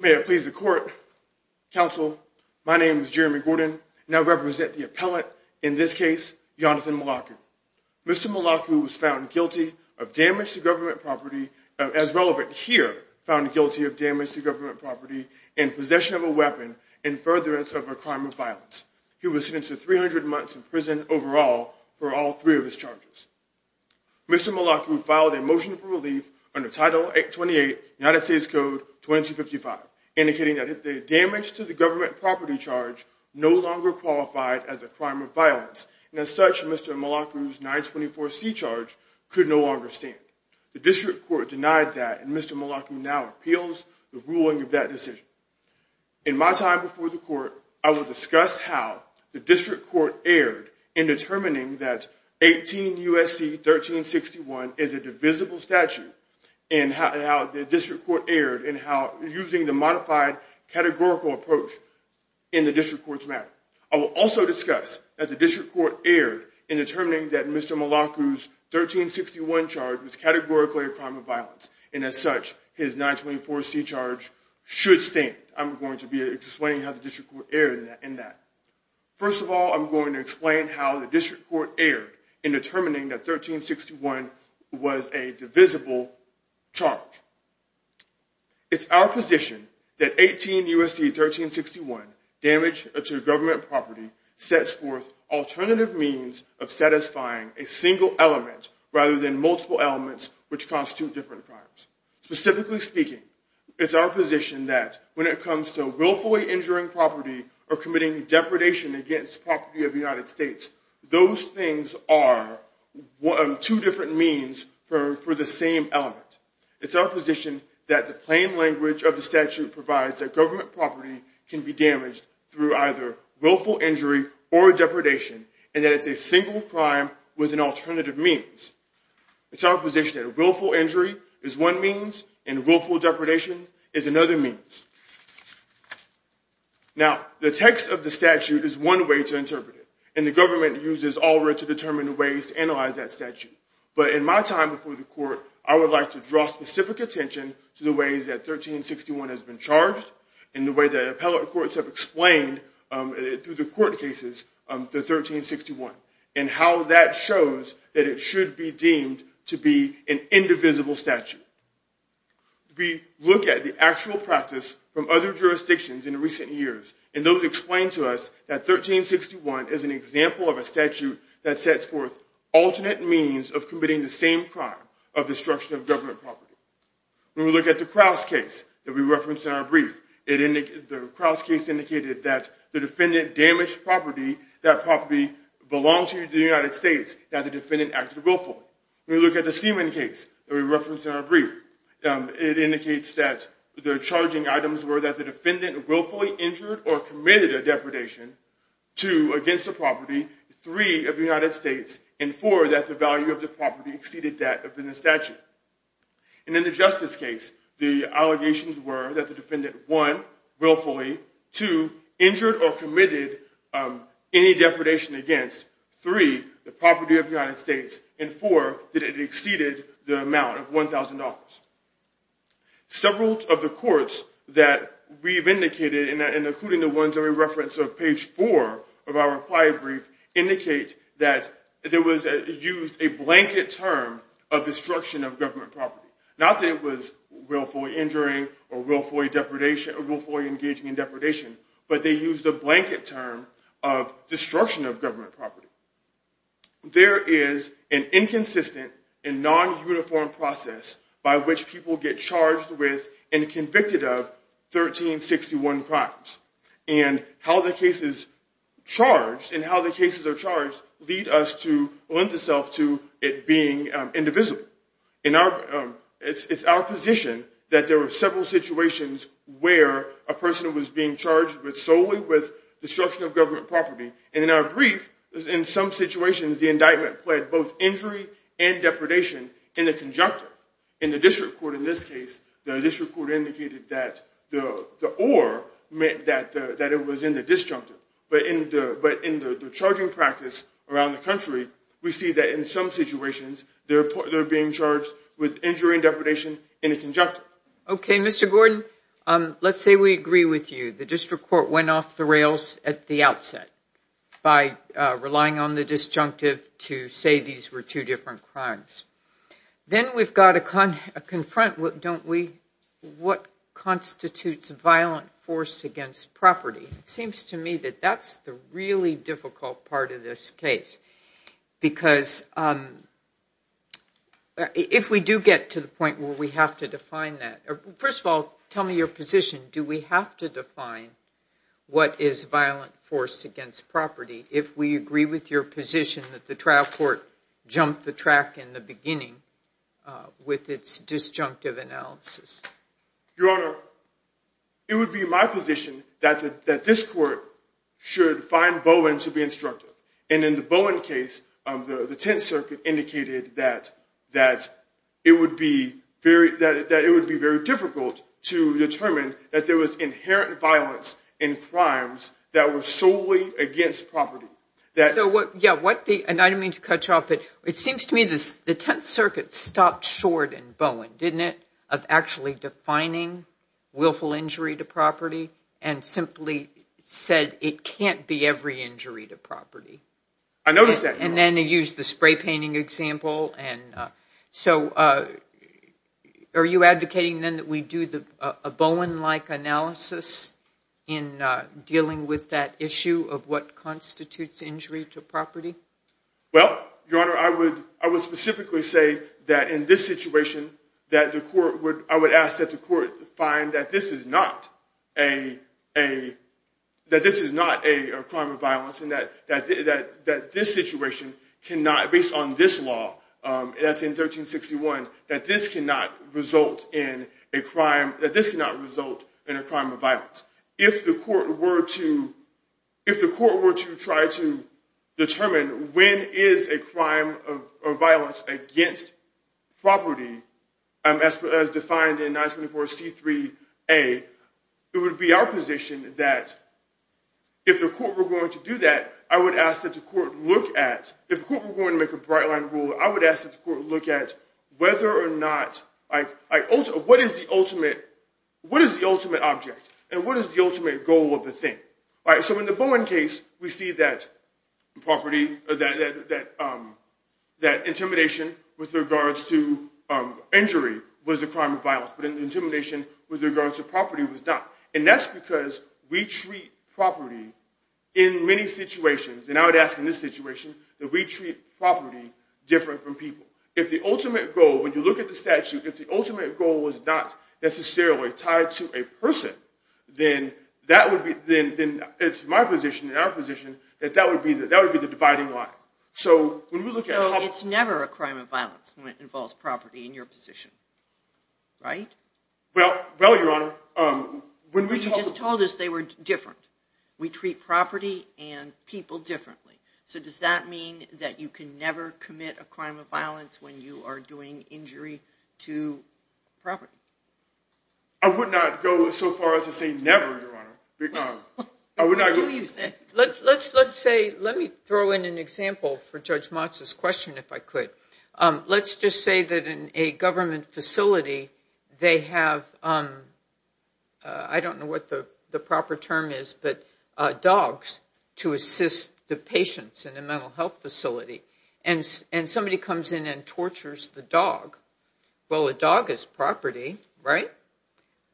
May it please the court, counsel, my name is Jeremy Gordon. I now represent the appellant, in this case, Yonathan Melaku. Mr. Melaku was found guilty of damage to government property, as relevant here, found guilty of damage to government property and possession of a weapon in furtherance of a crime of violence. He was sentenced to 300 months in prison overall for all three of his charges. Mr. Melaku filed a motion for relief under Title 828, United States Code 2255, indicating that the damage to the government property charge no longer qualified as a crime of violence, and as such, Mr. Melaku's 924C charge could no longer stand. The district court denied that, and Mr. Melaku now appeals the ruling of that decision. In my time before the court, I will discuss how the 924C-1361 is a divisible statute, and how the district court erred, and how using the modified categorical approach in the district court's matter. I will also discuss that the district court erred in determining that Mr. Melaku's 1361 charge was categorically a crime of violence, and as such, his 924C charge should stand. I'm going to be explaining how the district court erred in that. First of all, I'm going to explain how the district court erred in determining that 1361 was a divisible charge. It's our position that 18 U.S.C. 1361, damage to government property, sets forth alternative means of satisfying a single element, rather than multiple elements, which constitute different crimes. Specifically speaking, it's our position that when it comes to willfully injuring property, or committing depredation against property of the United States, those things are two different means for the same element. It's our position that the plain language of the statute provides that government property can be damaged through either willful injury or depredation, and that it's a single crime with an alternative means. It's our position that willful injury is one means, and willful depredation is another means. Now, the text of the statute is one way to interpret it, and the government uses ALWRA to determine ways to analyze that statute. But in my time before the court, I would like to draw specific attention to the ways that 1361 has been charged, and the way the appellate courts have explained, through the court cases, the 1361, and how that shows that it should be deemed to be an indivisible statute. We look at the actual practice from other jurisdictions in recent years, and those explain to us that 1361 is an example of a statute that sets forth alternate means of committing the same crime of destruction of government property. When we look at the Kraus case that we referenced in our brief, the Kraus case indicated that the defendant damaged property, that property belonged to the United States, that the defendant acted willfully. When we look at the Seaman case that we referenced in our brief, it were that the defendant willfully injured or committed a depredation, two, against the property, three, of the United States, and four, that the value of the property exceeded that of the statute. And in the Justice case, the allegations were that the defendant, one, willfully, two, injured or committed any depredation against, three, the property of the United States, and four, that it exceeded the amount of $1,000. Several of the courts that we've indicated, and including the ones that we referenced on page four of our reply brief, indicate that there was used a blanket term of destruction of government property. Not that it was willfully injuring or willfully engaging in depredation, but they used a blanket term of destruction of government property. There is an indivisible case by which people get charged with and convicted of 1361 crimes. And how the cases are charged lead us to lend ourselves to it being indivisible. It's our position that there were several situations where a person was being charged solely with destruction of government property. And in our brief, in some situations, the indictment pled both injury and depredation in the conjunctive. In the district court, in this case, the district court indicated that the or meant that it was in the disjunctive. But in the charging practice around the country, we see that in some situations, they're being charged with injury and depredation in the conjunctive. Okay, Mr. Gordon, let's say we agree with you. The district court went off the two different crimes. Then we've got to confront, don't we, what constitutes violent force against property? It seems to me that that's the really difficult part of this case. Because if we do get to the point where we have to define that, first of all, tell me your position. Do we have to define what is violent force against property if we agree with your position that the trial court jumped the track in the beginning with its disjunctive analysis? Your Honor, it would be my position that this court should find Bowen to be instructive. And in the Bowen case, the Tenth Circuit indicated that it would be very difficult to determine that there was inherent violence in crimes that were solely against property. I didn't mean to cut you off, but it seems to me that the Tenth Circuit stopped short in Bowen, didn't it, of actually defining willful injury to property and simply said it can't be every injury to property. I noticed that, Your Honor. And they used the spray painting example. So are you advocating then that we do a Bowen-like analysis in dealing with that issue of what constitutes injury to property? Well, Your Honor, I would specifically say that in this situation, I would ask that the court find that this is not a crime of violence and that this situation cannot, based on this law that's in 1361, that this cannot result in a crime of violence. If the court were to try to a, it would be our position that if the court were going to do that, I would ask that the court look at, if the court were going to make a bright line rule, I would ask that the court look at whether or not, what is the ultimate object? And what is the ultimate goal of the thing? All right, so in the Bowen case, we see that property, that intimidation with regards to property was not. And that's because we treat property in many situations. And I would ask in this situation that we treat property different from people. If the ultimate goal, when you look at the statute, if the ultimate goal was not necessarily tied to a person, then that would be, then it's my position and our position that that would be the dividing line. So when we look at how- So it's never a crime of violence when it involves property in your position, right? Well, well, Your Honor, when we talk- You just told us they were different. We treat property and people differently. So does that mean that you can never commit a crime of violence when you are doing injury to property? I would not go so far as to say never, Your Honor. I would not- What do you say? Let's, let's, let's say, let me throw in an example for Judge Motz's question, if I could. Let's just say that in a government facility, they have, I don't know what the proper term is, but dogs to assist the patients in a mental health facility. And somebody comes in and tortures the dog. Well, a dog is property, right?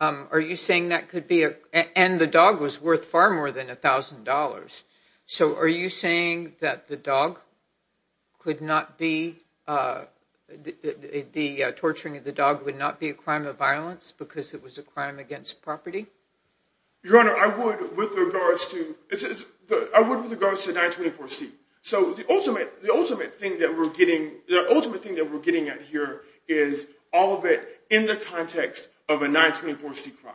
Are you saying that could be a- And the dog was a- The torturing of the dog would not be a crime of violence because it was a crime against property? Your Honor, I would with regards to, I would with regards to 924C. So the ultimate, the ultimate thing that we're getting, the ultimate thing that we're getting at here is all of it in the context of a 924C crime.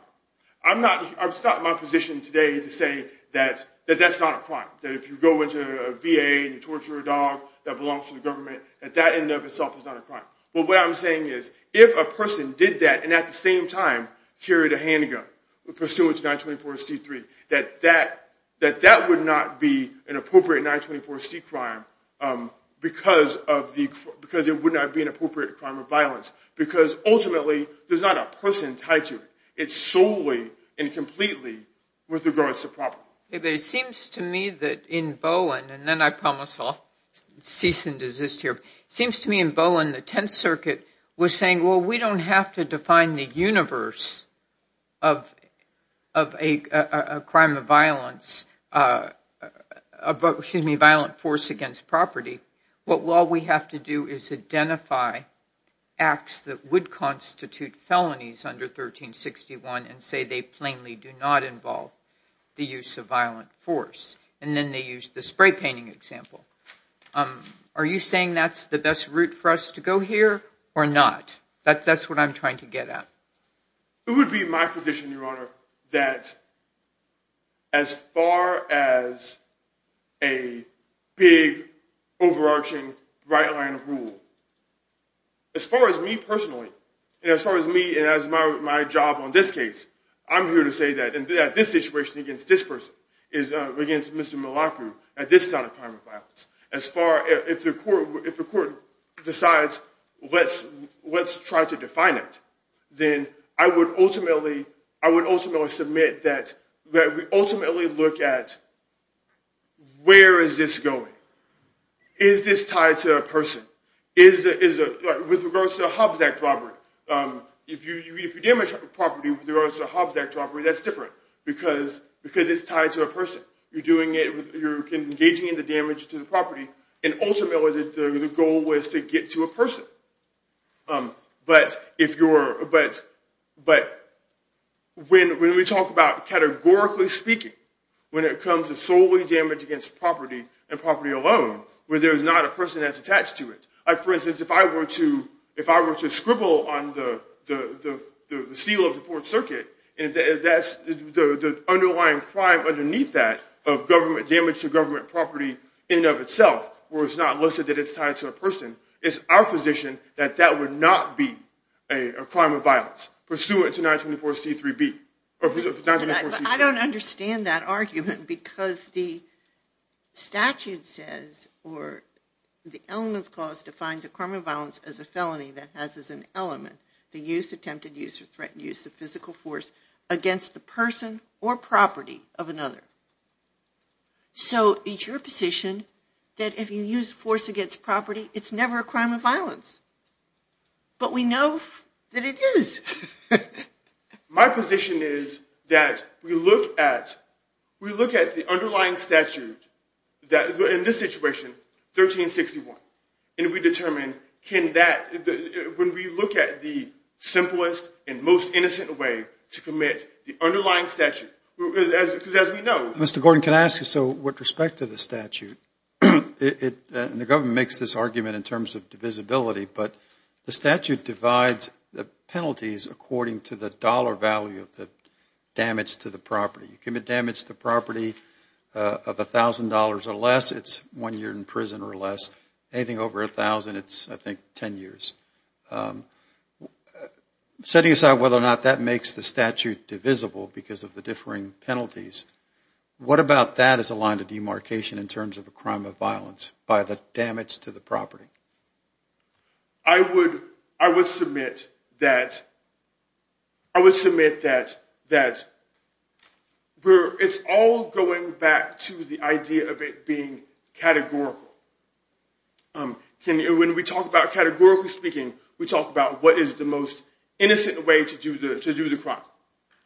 I'm not, it's not my position today to say that, that that's not a crime. That if you go into a VA and you torture a dog that belongs to the government, at that end of itself, it's not a crime. But what I'm saying is, if a person did that and at the same time carried a handgun pursuant to 924C3, that that, that that would not be an appropriate 924C crime because of the, because it would not be an appropriate crime of violence. Because ultimately, there's not a person tied to it. It's solely and completely with regards to property. But it seems to me that in Bowen, and then I promise I'll cease and desist here, seems to me in Bowen, the Tenth Circuit was saying, well, we don't have to define the universe of, of a crime of violence, excuse me, violent force against property. What we have to do is identify acts that would constitute felonies under 1361 and say they plainly do not involve the use of violent force. And then they use the spray painting example. Are you saying that's the best route for us to go here or not? That's what I'm trying to get at. It would be my position, Your Honor, that as far as a big overarching right line of rule, as far as me personally, as far as me and as my job on this case, I'm here to say that in this situation against this person, against Mr. Malacu, that this is not a crime of violence. As far, if the court decides, let's try to define it, then I would ultimately, I would ultimately submit that we ultimately look at where is this going? Is this tied to a person? With regards to a Hobbs Act robbery, if you damage property with regards to a Hobbs Act robbery, that's different because it's tied to a person. You're engaging in the damage to the property. And ultimately, the goal was to get to a person. But when we talk about categorically speaking, when it comes to solely damage against property and property alone, where there's not a person that's attached to it. For instance, if I were to scribble on the seal of the Fourth Circuit, that's the underlying crime underneath that of government damage to government property in and of itself, where it's not listed that it's tied to a person. It's our position that that would not be a crime of violence pursuant to 924C3B. I don't understand that argument because the statute says or the elements clause defines a crime of violence as a felony that has as an against the person or property of another. So it's your position that if you use force against property, it's never a crime of violence. But we know that it is. My position is that we look at the underlying statute that in this situation, 1361, and we determine, when we look at the simplest and most innocent way to commit the underlying statute, because as we know... Mr. Gordon, can I ask you, so with respect to the statute, and the government makes this argument in terms of divisibility, but the statute divides the penalties according to the dollar value of the damage to the property. You commit damage to anything over $1,000, it's, I think, 10 years. Setting aside whether or not that makes the statute divisible because of the differing penalties, what about that as a line of demarcation in terms of a crime of violence by the damage to the property? I would submit that it's all going back to the idea of it being categorical. When we talk about categorical speaking, we talk about what is the most innocent way to do the crime.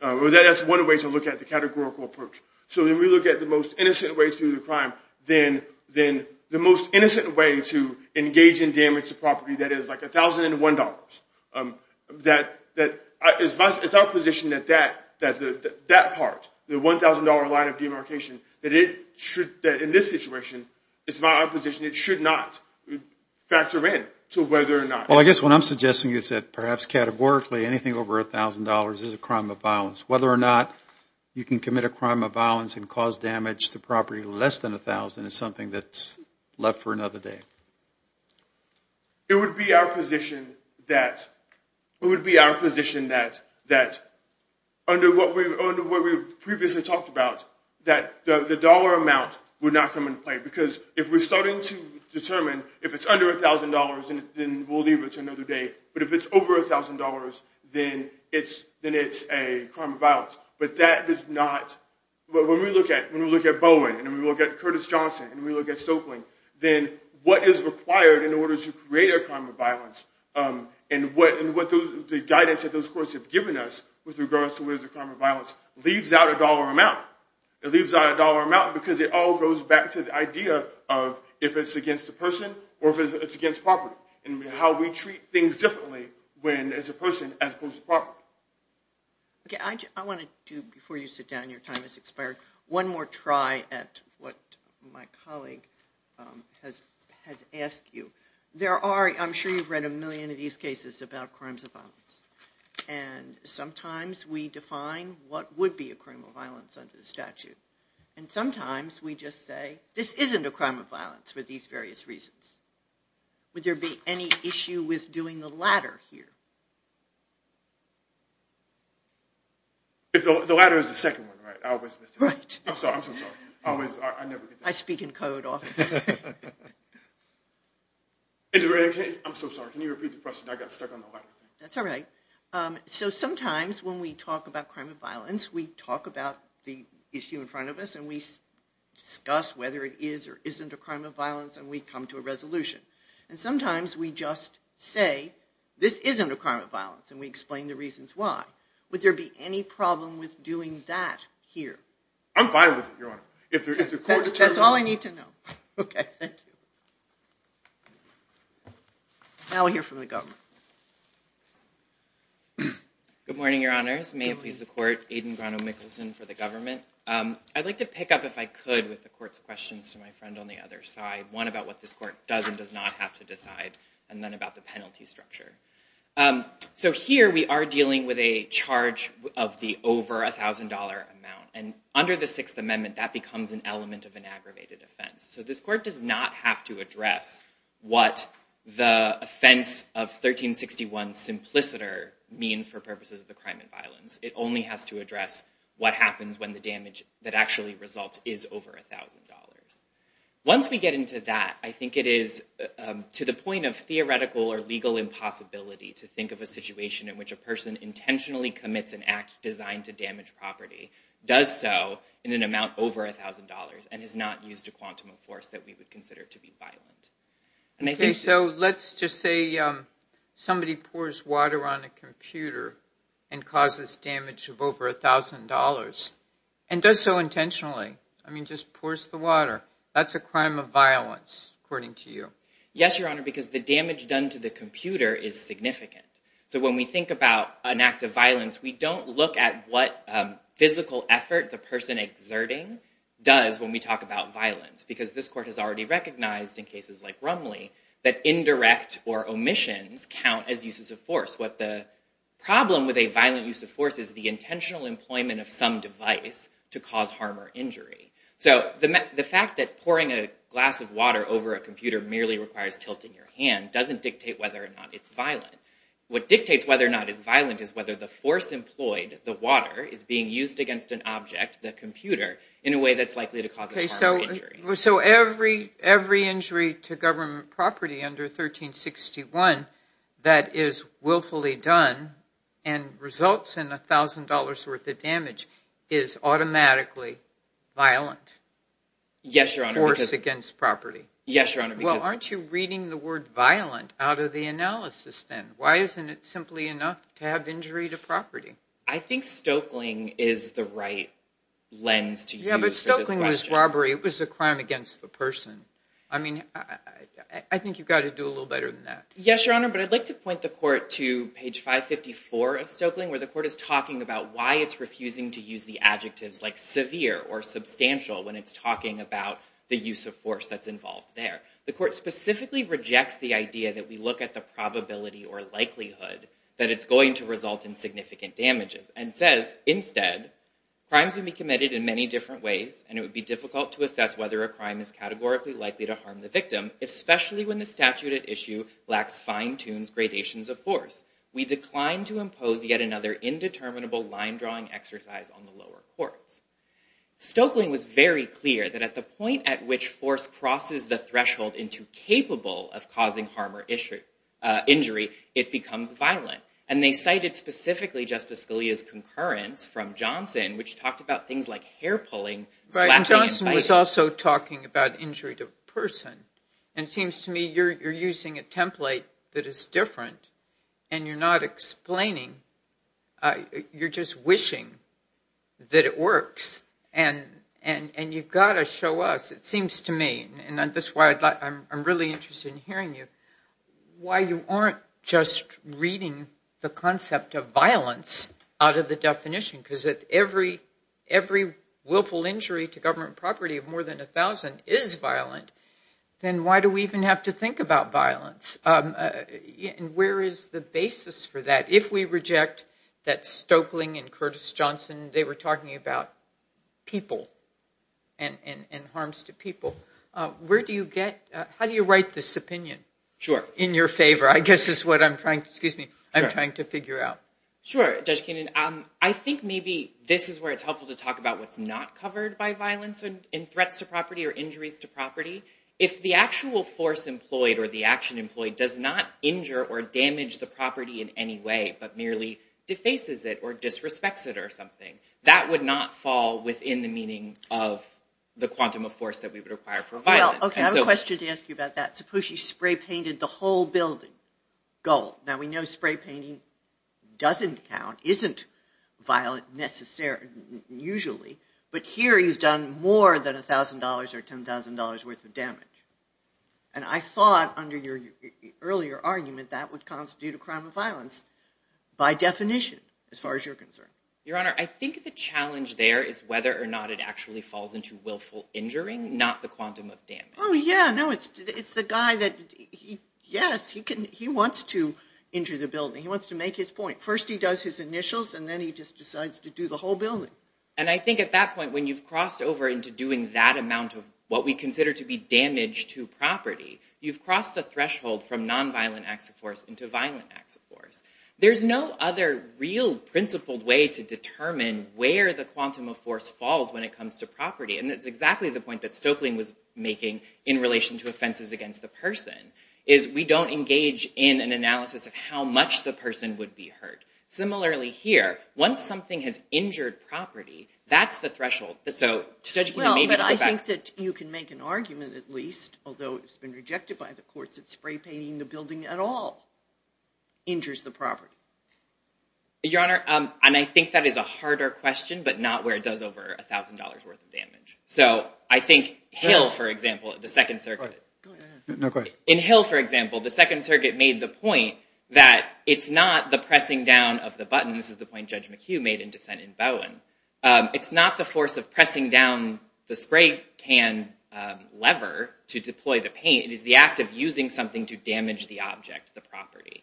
That's one way to look at the categorical approach. So when we look at the most innocent way to do the crime, then the most innocent way to engage in damage to property that is like $1,001. It's our position that that part, the $1,000 line of demarcation, that in this situation, it's not our position, it should not factor in to whether or not... Well, I guess what I'm suggesting is that perhaps categorically anything over $1,000 is a crime of violence. Whether or not you can commit a crime of violence and cause damage to property less than $1,000 is something that's left for another day. It would be our position that under what we've previously talked about, that the dollar amount would not come into play. Because if we're starting to determine if it's under $1,000, then we'll leave it to another day. But if it's over $1,000, then it's a crime of violence. But that does not... When we look at Bowen, and we look at Curtis Johnson, and we look at Stoeckling, then what is required in order to create a crime of violence, and the guidance that those courts have given us with regards to whether it's a crime of violence, leaves out a dollar amount. It leaves out a dollar amount because it all goes back to the idea of if it's against a person, or if it's against property, and how we treat things differently as a person as opposed to property. I want to do, before you sit down, your time has expired, one more try at what my colleague has asked you. There are, I'm sure you've read a million of these cases about crimes of violence. And sometimes we define what would be a crime of violence under the statute. And sometimes we just say, this isn't a crime of violence for these various reasons. Would there be any issue with doing the latter here? The latter is the second one, right? I always miss it. Right. I'm sorry. I'm so sorry. I speak in code often. I'm so sorry. Can you repeat the question? I got stuck on the latter. That's all right. So sometimes when we talk about crime of violence, we talk about the issue in front of us, and we discuss whether it is or isn't a crime of violence, and we come to a resolution. And sometimes we just say, this isn't a crime of violence, and we explain the reasons why. Would there be any problem with doing that here? I'm fine with it, Your Honor. If the court determines- That's all I need to know. Okay. Thank you. Now we'll hear from the government. Good morning, Your Honors. May it please the court, Aiden Grano-Michelson for the government. I'd like to pick up, if I could, with the court's questions to my friend on the other side. One, what this court does and does not have to decide, and then about the penalty structure. So here we are dealing with a charge of the over $1,000 amount. And under the Sixth Amendment, that becomes an element of an aggravated offense. So this court does not have to address what the offense of 1361 simpliciter means for purposes of the crime of violence. It only has to address what happens when the damage that actually results is over $1,000. Once we get into that, I think it is to the point of theoretical or legal impossibility to think of a situation in which a person intentionally commits an act designed to damage property, does so in an amount over $1,000, and has not used a quantum of force that we would consider to be violent. Okay, so let's just say somebody pours water on a computer and causes damage of over $1,000, and does so intentionally. I mean, just pours the water. That's a crime of violence, according to you. Yes, Your Honor, because the damage done to the computer is significant. So when we think about an act of violence, we don't look at what physical effort the person exerting does when we talk about violence. Because this court has already recognized, in cases like Rumley, that indirect or omissions count as uses of force. What the employment of some device to cause harm or injury. So the fact that pouring a glass of water over a computer merely requires tilting your hand doesn't dictate whether or not it's violent. What dictates whether or not it's violent is whether the force employed, the water, is being used against an object, the computer, in a way that's likely to cause harm or injury. So every injury to government property under 1361 that is willfully done and results in $1,000 of damage is automatically violent. Yes, Your Honor. Force against property. Yes, Your Honor. Well, aren't you reading the word violent out of the analysis then? Why isn't it simply enough to have injury to property? I think Stokeling is the right lens to use. Yeah, but Stokeling was robbery. It was a crime against the person. I mean, I think you've got to do a little better than that. Yes, Your Honor, but I'd like to point the court to page 554 of Stokeling, where the it's refusing to use the adjectives like severe or substantial when it's talking about the use of force that's involved there. The court specifically rejects the idea that we look at the probability or likelihood that it's going to result in significant damages and says, instead, crimes can be committed in many different ways, and it would be difficult to assess whether a crime is categorically likely to harm the victim, especially when the statute at issue lacks fine-tuned gradations of force. We decline to impose yet another indeterminable line-drawing exercise on the lower courts. Stokeling was very clear that at the point at which force crosses the threshold into capable of causing harm or injury, it becomes violent, and they cited specifically Justice Scalia's concurrence from Johnson, which talked about things like hair-pulling, slapping, and biting. Johnson was also talking about injury to a person, and it seems to me you're using a template that is different, and you're not explaining. You're just wishing that it works, and you've got to show us. It seems to me, and this is why I'm really interested in hearing you, why you aren't just reading the concept of violence out of the definition, because if every willful injury to government property of more than 1,000 is violent, then why do we even have to think about violence? And the basis for that, if we reject that Stokeling and Curtis Johnson, they were talking about people and harms to people. How do you write this opinion? Sure. In your favor, I guess is what I'm trying to figure out. Sure, Judge Kenan. I think maybe this is where it's helpful to talk about what's not covered by violence and threats to property or injuries to property. If the actual force employed or the property in any way, but merely defaces it or disrespects it or something, that would not fall within the meaning of the quantum of force that we would require for violence. Okay. I have a question to ask you about that. Suppose you spray painted the whole building gold. Now, we know spray painting doesn't count, isn't violent usually, but here you've done more than $1,000 or $10,000 worth of damage. And I thought under your earlier argument, that would constitute a crime of violence by definition, as far as you're concerned. Your Honor, I think the challenge there is whether or not it actually falls into willful injuring, not the quantum of damage. Oh yeah. No, it's the guy that, yes, he wants to injure the building. He wants to make his point. First he does his initials and then he just decides to do the whole building. And I think at that point, when you've crossed over into doing that amount of what we consider to be damage to property, you've crossed the threshold from nonviolent acts of force into violent acts of force. There's no other real principled way to determine where the quantum of force falls when it comes to property. And it's exactly the point that Stoeckling was making in relation to offenses against the person, is we don't engage in an analysis of how much the person would be hurt. Similarly here, once something has injured property, that's the You can make an argument at least, although it's been rejected by the courts, that spray painting the building at all injures the property. Your Honor, and I think that is a harder question, but not where it does over a thousand dollars worth of damage. So I think Hill, for example, at the Second Circuit, in Hill, for example, the Second Circuit made the point that it's not the pressing down of the button. This is the point Judge McHugh made in dissent in Bowen. It's not the force of pressing down the spray can lever to deploy the paint. It is the act of using something to damage the object, the property.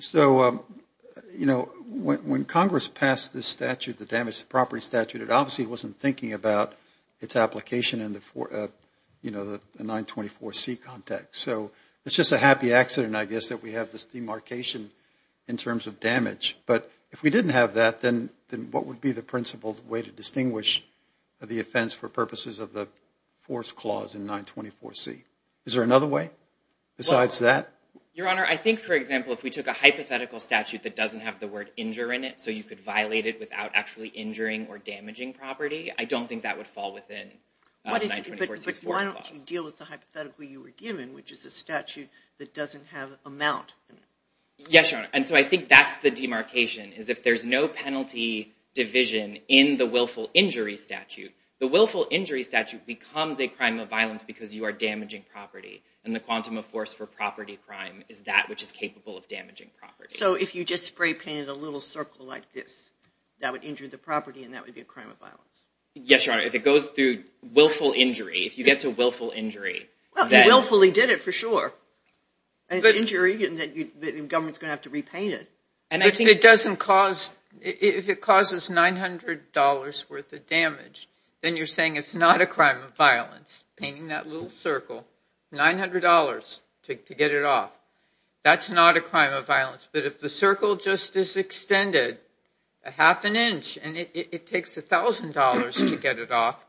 So, you know, when Congress passed this statute, the damage to property statute, it obviously wasn't thinking about its application in the 924C context. So it's just a happy accident, I guess, that we have this demarcation in terms of damage. But if we didn't have that, then what would be the principled way to distinguish the offense for purposes of the force clause in 924C? Is there another way besides that? Your Honor, I think, for example, if we took a hypothetical statute that doesn't have the word injure in it, so you could violate it without actually injuring or damaging property, I don't think that would fall within 924C's force clause. But why don't you deal with the hypothetical you were given, which is a statute that doesn't have amount in it? Yes, Your Honor. And so I think that's the demarcation, is if there's no penalty division in the willful injury statute, the willful injury statute becomes a crime of violence because you are damaging property. And the quantum of force for property crime is that which is capable of damaging property. So if you just spray painted a little circle like this, that would injure the property, and that would be a crime of violence? Yes, Your Honor. If it goes through willful injury, if you get to willful injury. Well, if you willfully did it, for sure. An injury that the government's going to have to repaint it. And I think it doesn't cause, if it causes $900 worth of damage, then you're saying it's not a crime of violence. Painting that little circle, $900 to get it off. That's not a crime of violence. But if the circle just is extended a half an inch, and it takes $1,000 to get it off,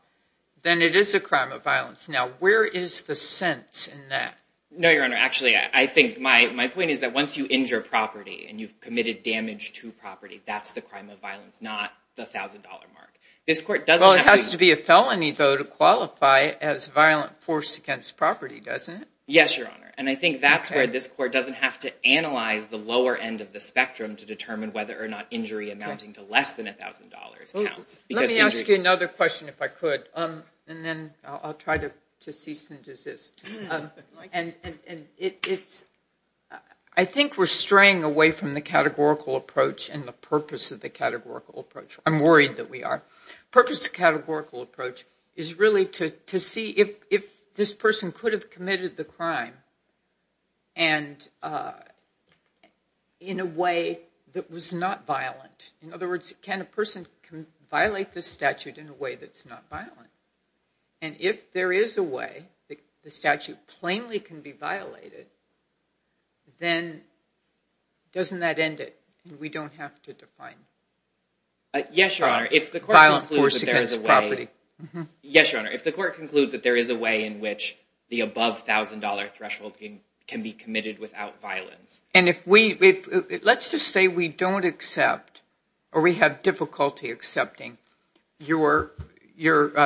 then it is a crime of violence. Now, where is the sense in that? No, Your Honor. Actually, I think my point is that once you injure property, and you've committed damage to property, that's the crime of violence, not the $1,000 mark. This court doesn't have to... Well, it has to be a felony, though, to qualify as violent force against property, doesn't it? Yes, Your Honor. And I think that's where this court doesn't have to analyze the lower end of the spectrum to determine whether or not injury amounting to less than $1,000 counts. Let me ask you another question if I could, and then I'll try to cease and desist. I think we're straying away from the categorical approach and the purpose of the categorical approach. I'm worried that we are. The purpose of the categorical approach is really to see if this person could have committed the crime and in a way that was not violent. In other words, can a person can violate this statute in a way that's not violent? And if there is a way that the statute plainly can be violated, then doesn't that end it? We don't have to define... Yes, Your Honor. If the court concludes that there is a way... Yes, Your Honor. If the court concludes that there is a way in which the above $1,000 threshold can be committed without violence... And if we... Let's just say we don't accept or we have difficulty accepting. You're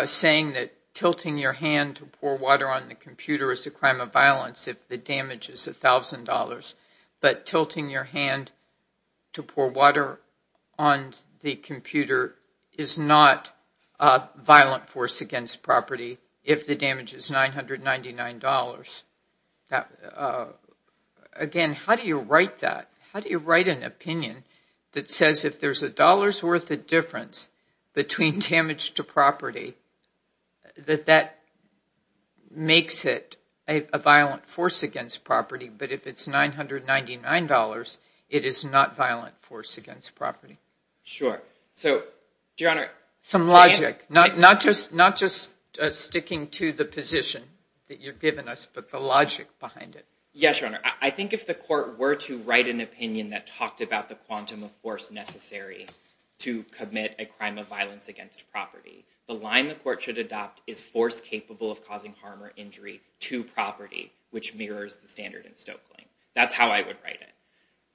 saying that tilting your hand to pour water on the computer is a crime of violence if the damage is $1,000, but tilting your hand to pour water on the computer is not a violent force against property if the damage is $999. Again, how do you write that? How do you write an opinion that says if there's a dollar's worth of difference between damage to property that that makes it a violent force against property, but if it's $999, it is not violent force against property? Sure. So, Your Honor... Some logic. Not just sticking to the position that you've given us, but the logic behind it. Yes, Your Honor. I think if the court were to write an opinion that talked about the quantum of force necessary to commit a crime of violence against property, the line the court should adopt is force capable of causing harm or injury to property, which mirrors the standard in Stokely. That's how I would write it.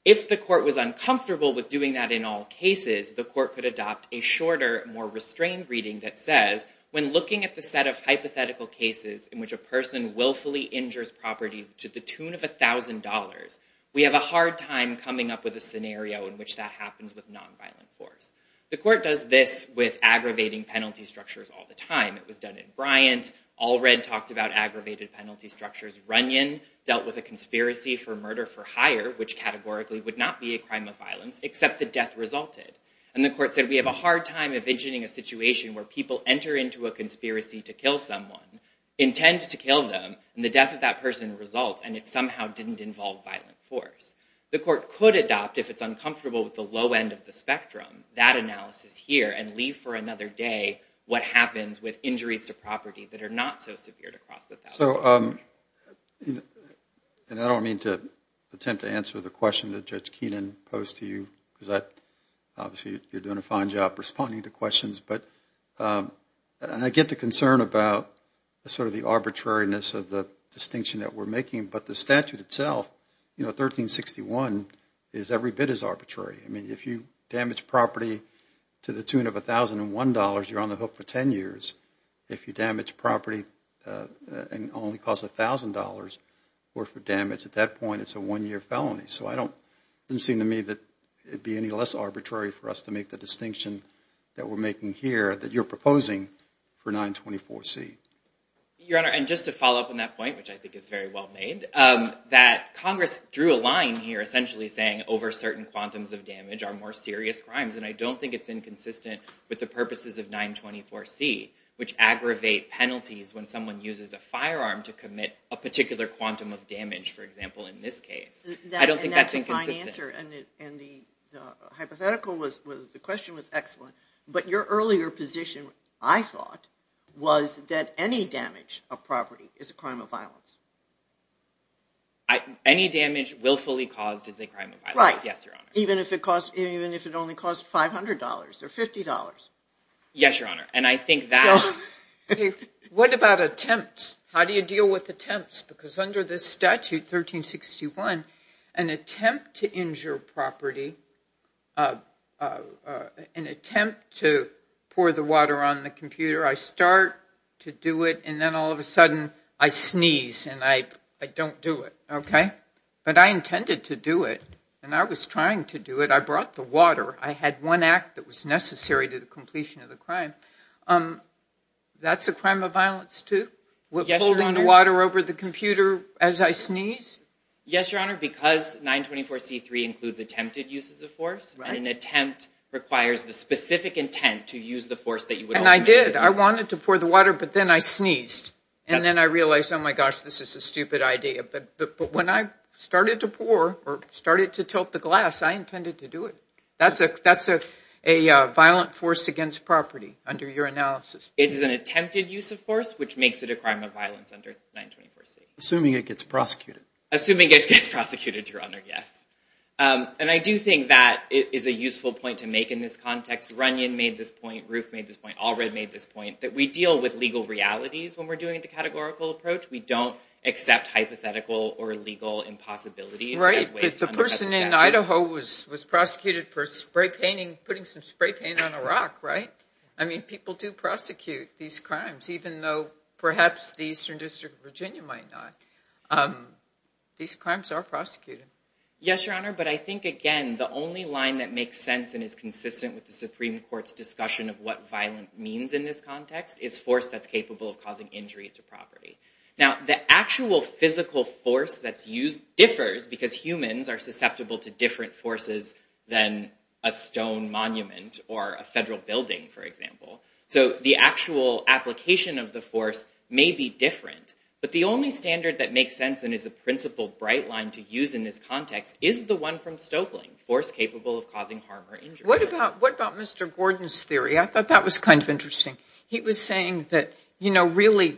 If the court was uncomfortable with doing that in all cases, the court could adopt a shorter, more restrained reading that says, when looking at the set of hypothetical cases in which a person willfully injures property to the tune of $1,000, we have a hard time coming up with a scenario in which that happens with nonviolent force. The court does this with aggravating penalty structures all the time. It was done in Bryant. Allred talked about aggravated penalty structures. Runyon dealt with a conspiracy for murder for hire, which categorically would not be a crime of violence, except the death resulted. And the court said, we have a hard time envisioning a situation where people enter into a conspiracy to kill someone, intend to kill them, and the death of that person results, and it somehow didn't involve violent force. The court could adopt, if it's uncomfortable with the low end of the spectrum, that analysis here and leave for another day what happens with injuries to property that are not so severe to cross the $1,000. So, and I don't mean to attempt to answer the question that Judge Keenan posed to you, because obviously you're doing a fine job responding to questions, but I get the concern about sort of the arbitrariness of the distinction that we're making, but the statute itself, you know, 1361, is every bit as arbitrary. I mean, if you damage property to the tune of $1,001, you're on the hook for 10 years. If you damage property and only cost $1,000 for damage, at that point it's a one-year felony. So, it doesn't seem to me that it'd be any less arbitrary for us to make the distinction that we're making here that you're proposing for 924C. Your Honor, and just to follow up on that point, which I think is very well made, that Congress drew a line here essentially saying over certain quantums of damage are more serious crimes, and I don't think it's inconsistent with the purposes of 924C, which aggravate penalties when someone uses a firearm to commit a particular quantum of damage, for example, in this case. I don't think that's inconsistent. And that's a fine answer, and the hypothetical was, the question was excellent, but your earlier position, I thought, was that any damage of property is a crime of violence. Any damage willfully caused is a crime of violence, yes, Your Honor. Even if it costs, even if it only costs $500 or $50. Yes, Your Honor, and I think that... What about attempts? How do you deal with attempts? Because under this statute, 1361, an attempt to injure property, an attempt to pour the water on the computer, I start to do it, and then all of a sudden I sneeze, and I don't do it, okay? But I intended to do it, and I was trying to do it. I brought the water. I had one act that was necessary to the completion of the crime. That's a crime of violence, too? Holding water over the computer as I sneeze? Yes, Your Honor, because 924C3 includes attempted uses of force, an attempt requires the specific intent to use the force that you would... And I did. I wanted to pour the water, but then I sneezed, and then I realized, oh my gosh, this is a stupid idea. But when I started to pour or started to tilt the glass, I intended to do it. That's a violent force against property under your analysis. It is an attempted use of force, which makes it a crime of violence under 924C. Assuming it gets prosecuted. Assuming it gets prosecuted, Your Honor, yes. And I do think that is a useful point to make in this context. Runyon made this point. Roof made this point. Allred made this point, that we deal with legal realities when we're doing the categorical approach. We don't accept hypothetical or legal impossibilities. Right, because the person in Idaho was prosecuted for spray painting, putting some spray paint on a rock, right? I mean, people do prosecute these crimes, even though perhaps the Eastern District of Virginia might not. These crimes are prosecuted. Yes, Your Honor, but I think, again, the only line that makes sense and is consistent with the Supreme Court's discussion of what violent means in this context is force that's capable of causing injury to property. Now, the actual physical force that's used differs because humans are susceptible to different forces than a stone monument or a federal building, for example. So the actual application of the force may be different, but the only standard that makes sense and is a principal bright line to use in this context is the one from Stoeckling, force capable of causing harm or injury. What about Mr. Gordon's theory? I thought that was kind of interesting. He was saying that, you know, really,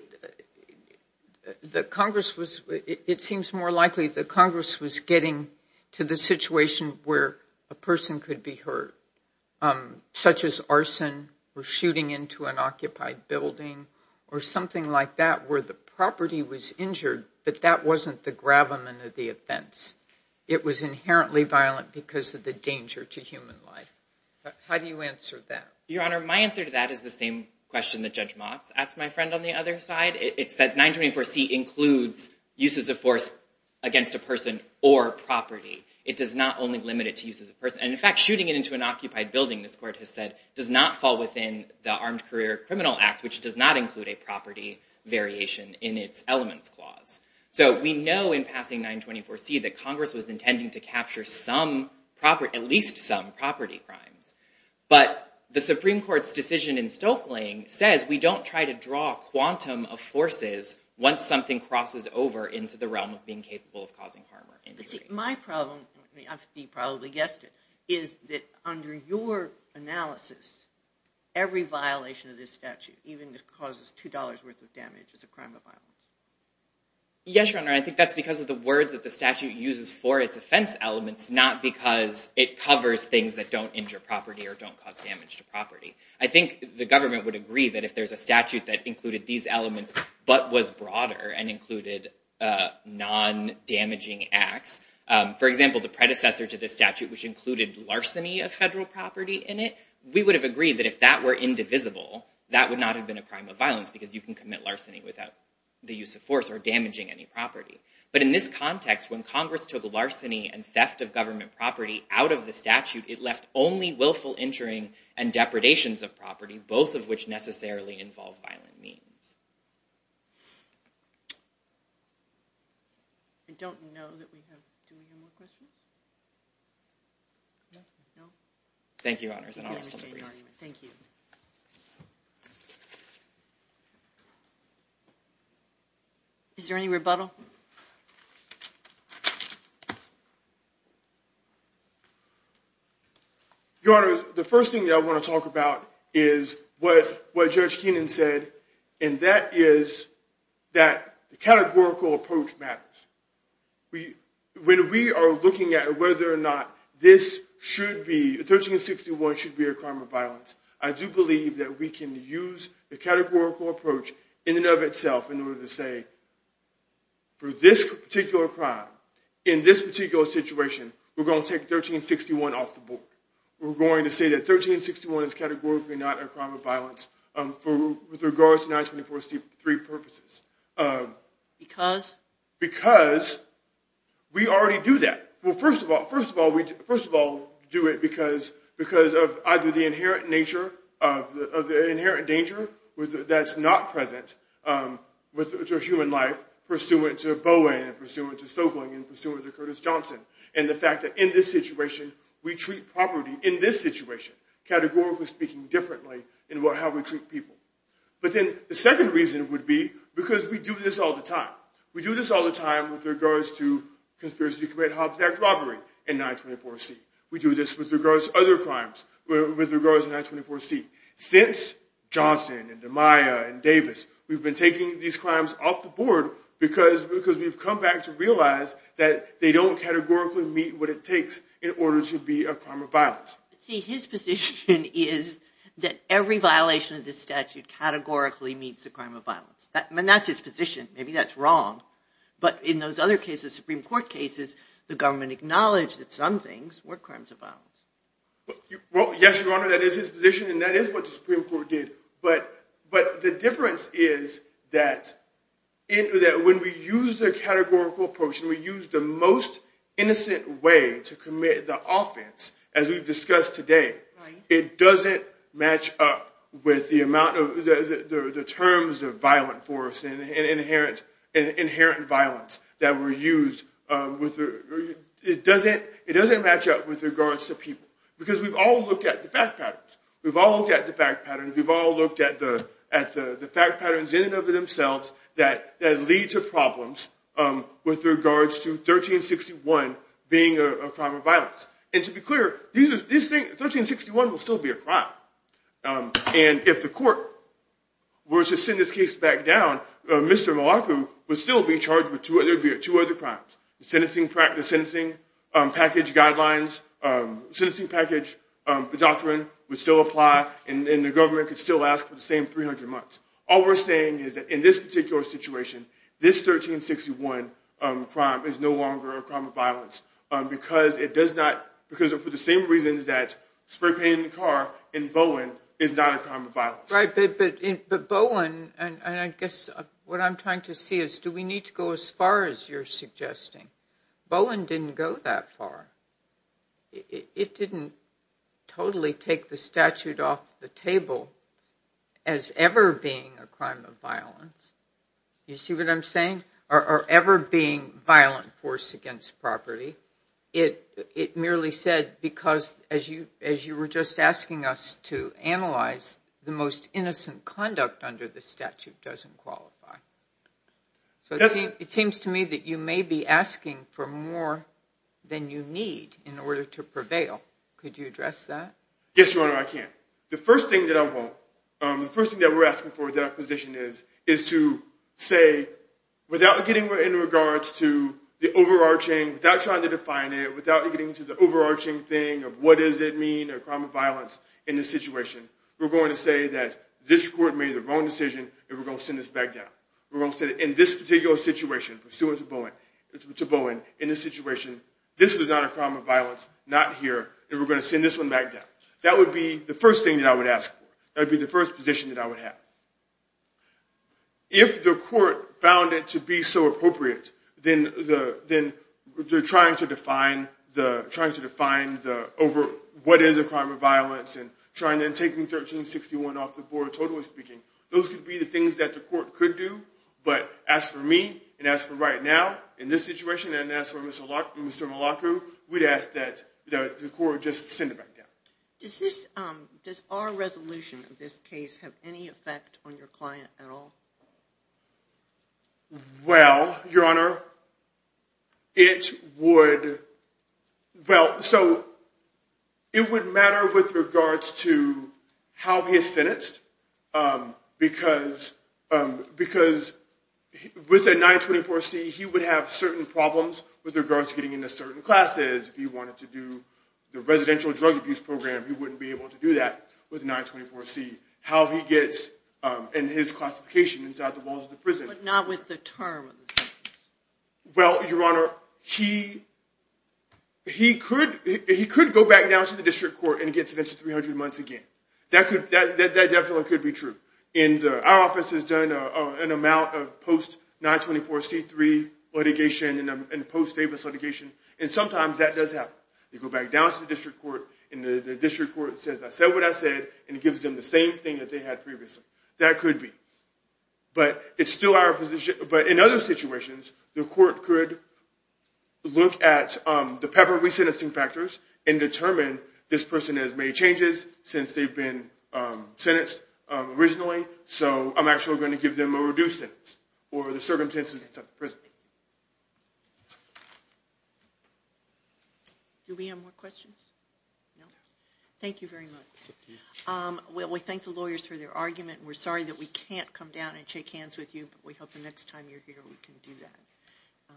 the Congress was, it seems more likely the Congress was getting to the situation where a person could be hurt, such as arson or shooting into an occupied building or something like that where the property was injured, but that wasn't the gravamen of the offense. It was inherently violent because of the danger to human life. How do you answer that? Your Honor, my answer to that is the same question that Judge Motz asked my friend on the other side. It's that 924C includes uses of force against a person or property. It does not only limit it to uses of force. And in fact, shooting it into an occupied building, this court has said, does not fall within the Armed Career Criminal Act, which does not include a property variation in its elements clause. So we know in passing 924C that Congress was decision in Stokeling says we don't try to draw a quantum of forces once something crosses over into the realm of being capable of causing harm or injury. My problem, you probably guessed it, is that under your analysis, every violation of this statute, even if it causes $2 worth of damage is a crime of violence. Yes, Your Honor. I think that's because of the words that the statute uses for its offense elements, not because it covers things that don't injure property or don't cause damage to property. I think the government would agree that if there's a statute that included these elements, but was broader and included non-damaging acts, for example, the predecessor to this statute, which included larceny of federal property in it, we would have agreed that if that were indivisible, that would not have been a crime of violence because you can commit larceny without the use of force or damaging any property. But in this context, when Congress took a larceny and theft of government property out of the statute, it left only willful injuring and depredations of property, both of which necessarily involve violent means. I don't know that we have, do we have more questions? No? Thank you, Your Honor. Is there any rebuttal? Your Honor, the first thing that I want to talk about is what Judge Kenan said, and that is that the categorical approach matters. When we are looking at whether or not this should be, 1361 should be a crime of violence, I do believe that we can use the categorical approach in and of itself in order to say, for this particular crime, in this particular situation, we're going to take 1361 off the board. We're going to say that 1361 is categorically not a crime of violence with regards to 924C3 purposes. Because? Because we already do that. Well, first of all, we first of all do it because of either the inherent nature of the inherent danger that's not present to human life pursuant to Bowen and pursuant to Stoeckling and pursuant to Curtis Johnson, and the fact that in this situation, we treat property in this situation, categorically speaking, differently in how we treat people. But then the second reason would be because we do this all the time. We do this all the time with regards to conspiracy to commit Hobbs Act robbery in 924C. We do this with regards to other crimes, with regards to 924C. Since Johnson and Amaya and Davis, we've been taking these crimes off the board because we've come back to realize that they don't categorically meet what it takes in order to be a crime of violence. See, his position is that every violation of this statute categorically meets a crime of violence. And that's his position. Maybe that's wrong. But in those other cases, Supreme Court cases, the government acknowledged that some things were crimes of violence. Well, yes, Your Honor, that is his position, and that is what the Supreme Court did. But the difference is that when we use the categorical approach and we use the most innocent way to commit the offense, as we've discussed today, it doesn't match up with the amount of the terms of force and inherent violence that were used. It doesn't match up with regards to people. Because we've all looked at the fact patterns. We've all looked at the fact patterns. We've all looked at the fact patterns in and of themselves that lead to problems with regards to 1361 being a crime of violence. And to be clear, 1361 will still be a crime. And if the court were to send this case back down, Mr. Malacu would still be charged with two other crimes. The sentencing package guidelines, the sentencing package, the doctrine would still apply, and the government could still ask for the same 300 months. All we're saying is that in this particular situation, this 1361 crime is no longer a crime of violence because it does not, because for the same reasons that spray painting the car in Bowen is not a crime of violence. But Bowen, and I guess what I'm trying to see is, do we need to go as far as you're suggesting? Bowen didn't go that far. It didn't totally take the statute off the table as ever being a crime of violence. You see what I'm saying? Or ever being violent force against property. It merely said, because as you were just asking us to analyze, the most innocent conduct under the statute doesn't qualify. So it seems to me that you may be asking for more than you need in order to prevail. Could you address that? Yes, Your Honor, I can. The first thing that I want, the first thing that we're asking for, that our position is, is to say, without getting in regards to the overarching, without trying to define it, without getting into the overarching thing of what does it mean a crime of violence in this situation, we're going to say that this court made the wrong decision and we're going to send this back down. We're going to say that in this particular situation, pursuant to Bowen, in this situation, this was not a crime of violence, not here, and we're going to send this one back down. That would be the first thing that I would ask for. That would be the first position that I would have. If the court found it to be so appropriate, then trying to define what is a crime of violence and trying to take 1361 off the board, totally speaking, those could be the things that the court could do. But as for me, and as for right now, in this situation, and as for Mr. Malacu, we'd ask that the court just send it back down. Does our resolution of this case have any effect on your client at all? Well, Your Honor, it would matter with regards to how he is sentenced, because with a 924C, he would have certain problems with regards to getting into certain classes. If he wanted to do the residential drug abuse program, he wouldn't be able to do that with a 924C, how he gets in his classification inside the walls of the prison. But not with the term? Well, Your Honor, he could go back down to the district court and get sentenced to 300 months again. That definitely could be true. Our office has done an amount of post-924C3 litigation and post-Davis litigation, and sometimes that does happen. They go back down to the district court, and the district court says, I said what I said, and it gives them the same thing that they had previously. That could be. But it's still our position. But in other situations, the court could look at the pepper re-sentencing factors and determine, this person has made changes since they've been sentenced originally, so I'm actually going to give them a reduced sentence, or the Thank you very much. Well, we thank the lawyers for their argument. We're sorry that we can't come down and shake hands with you, but we hope the next time you're here we can do that.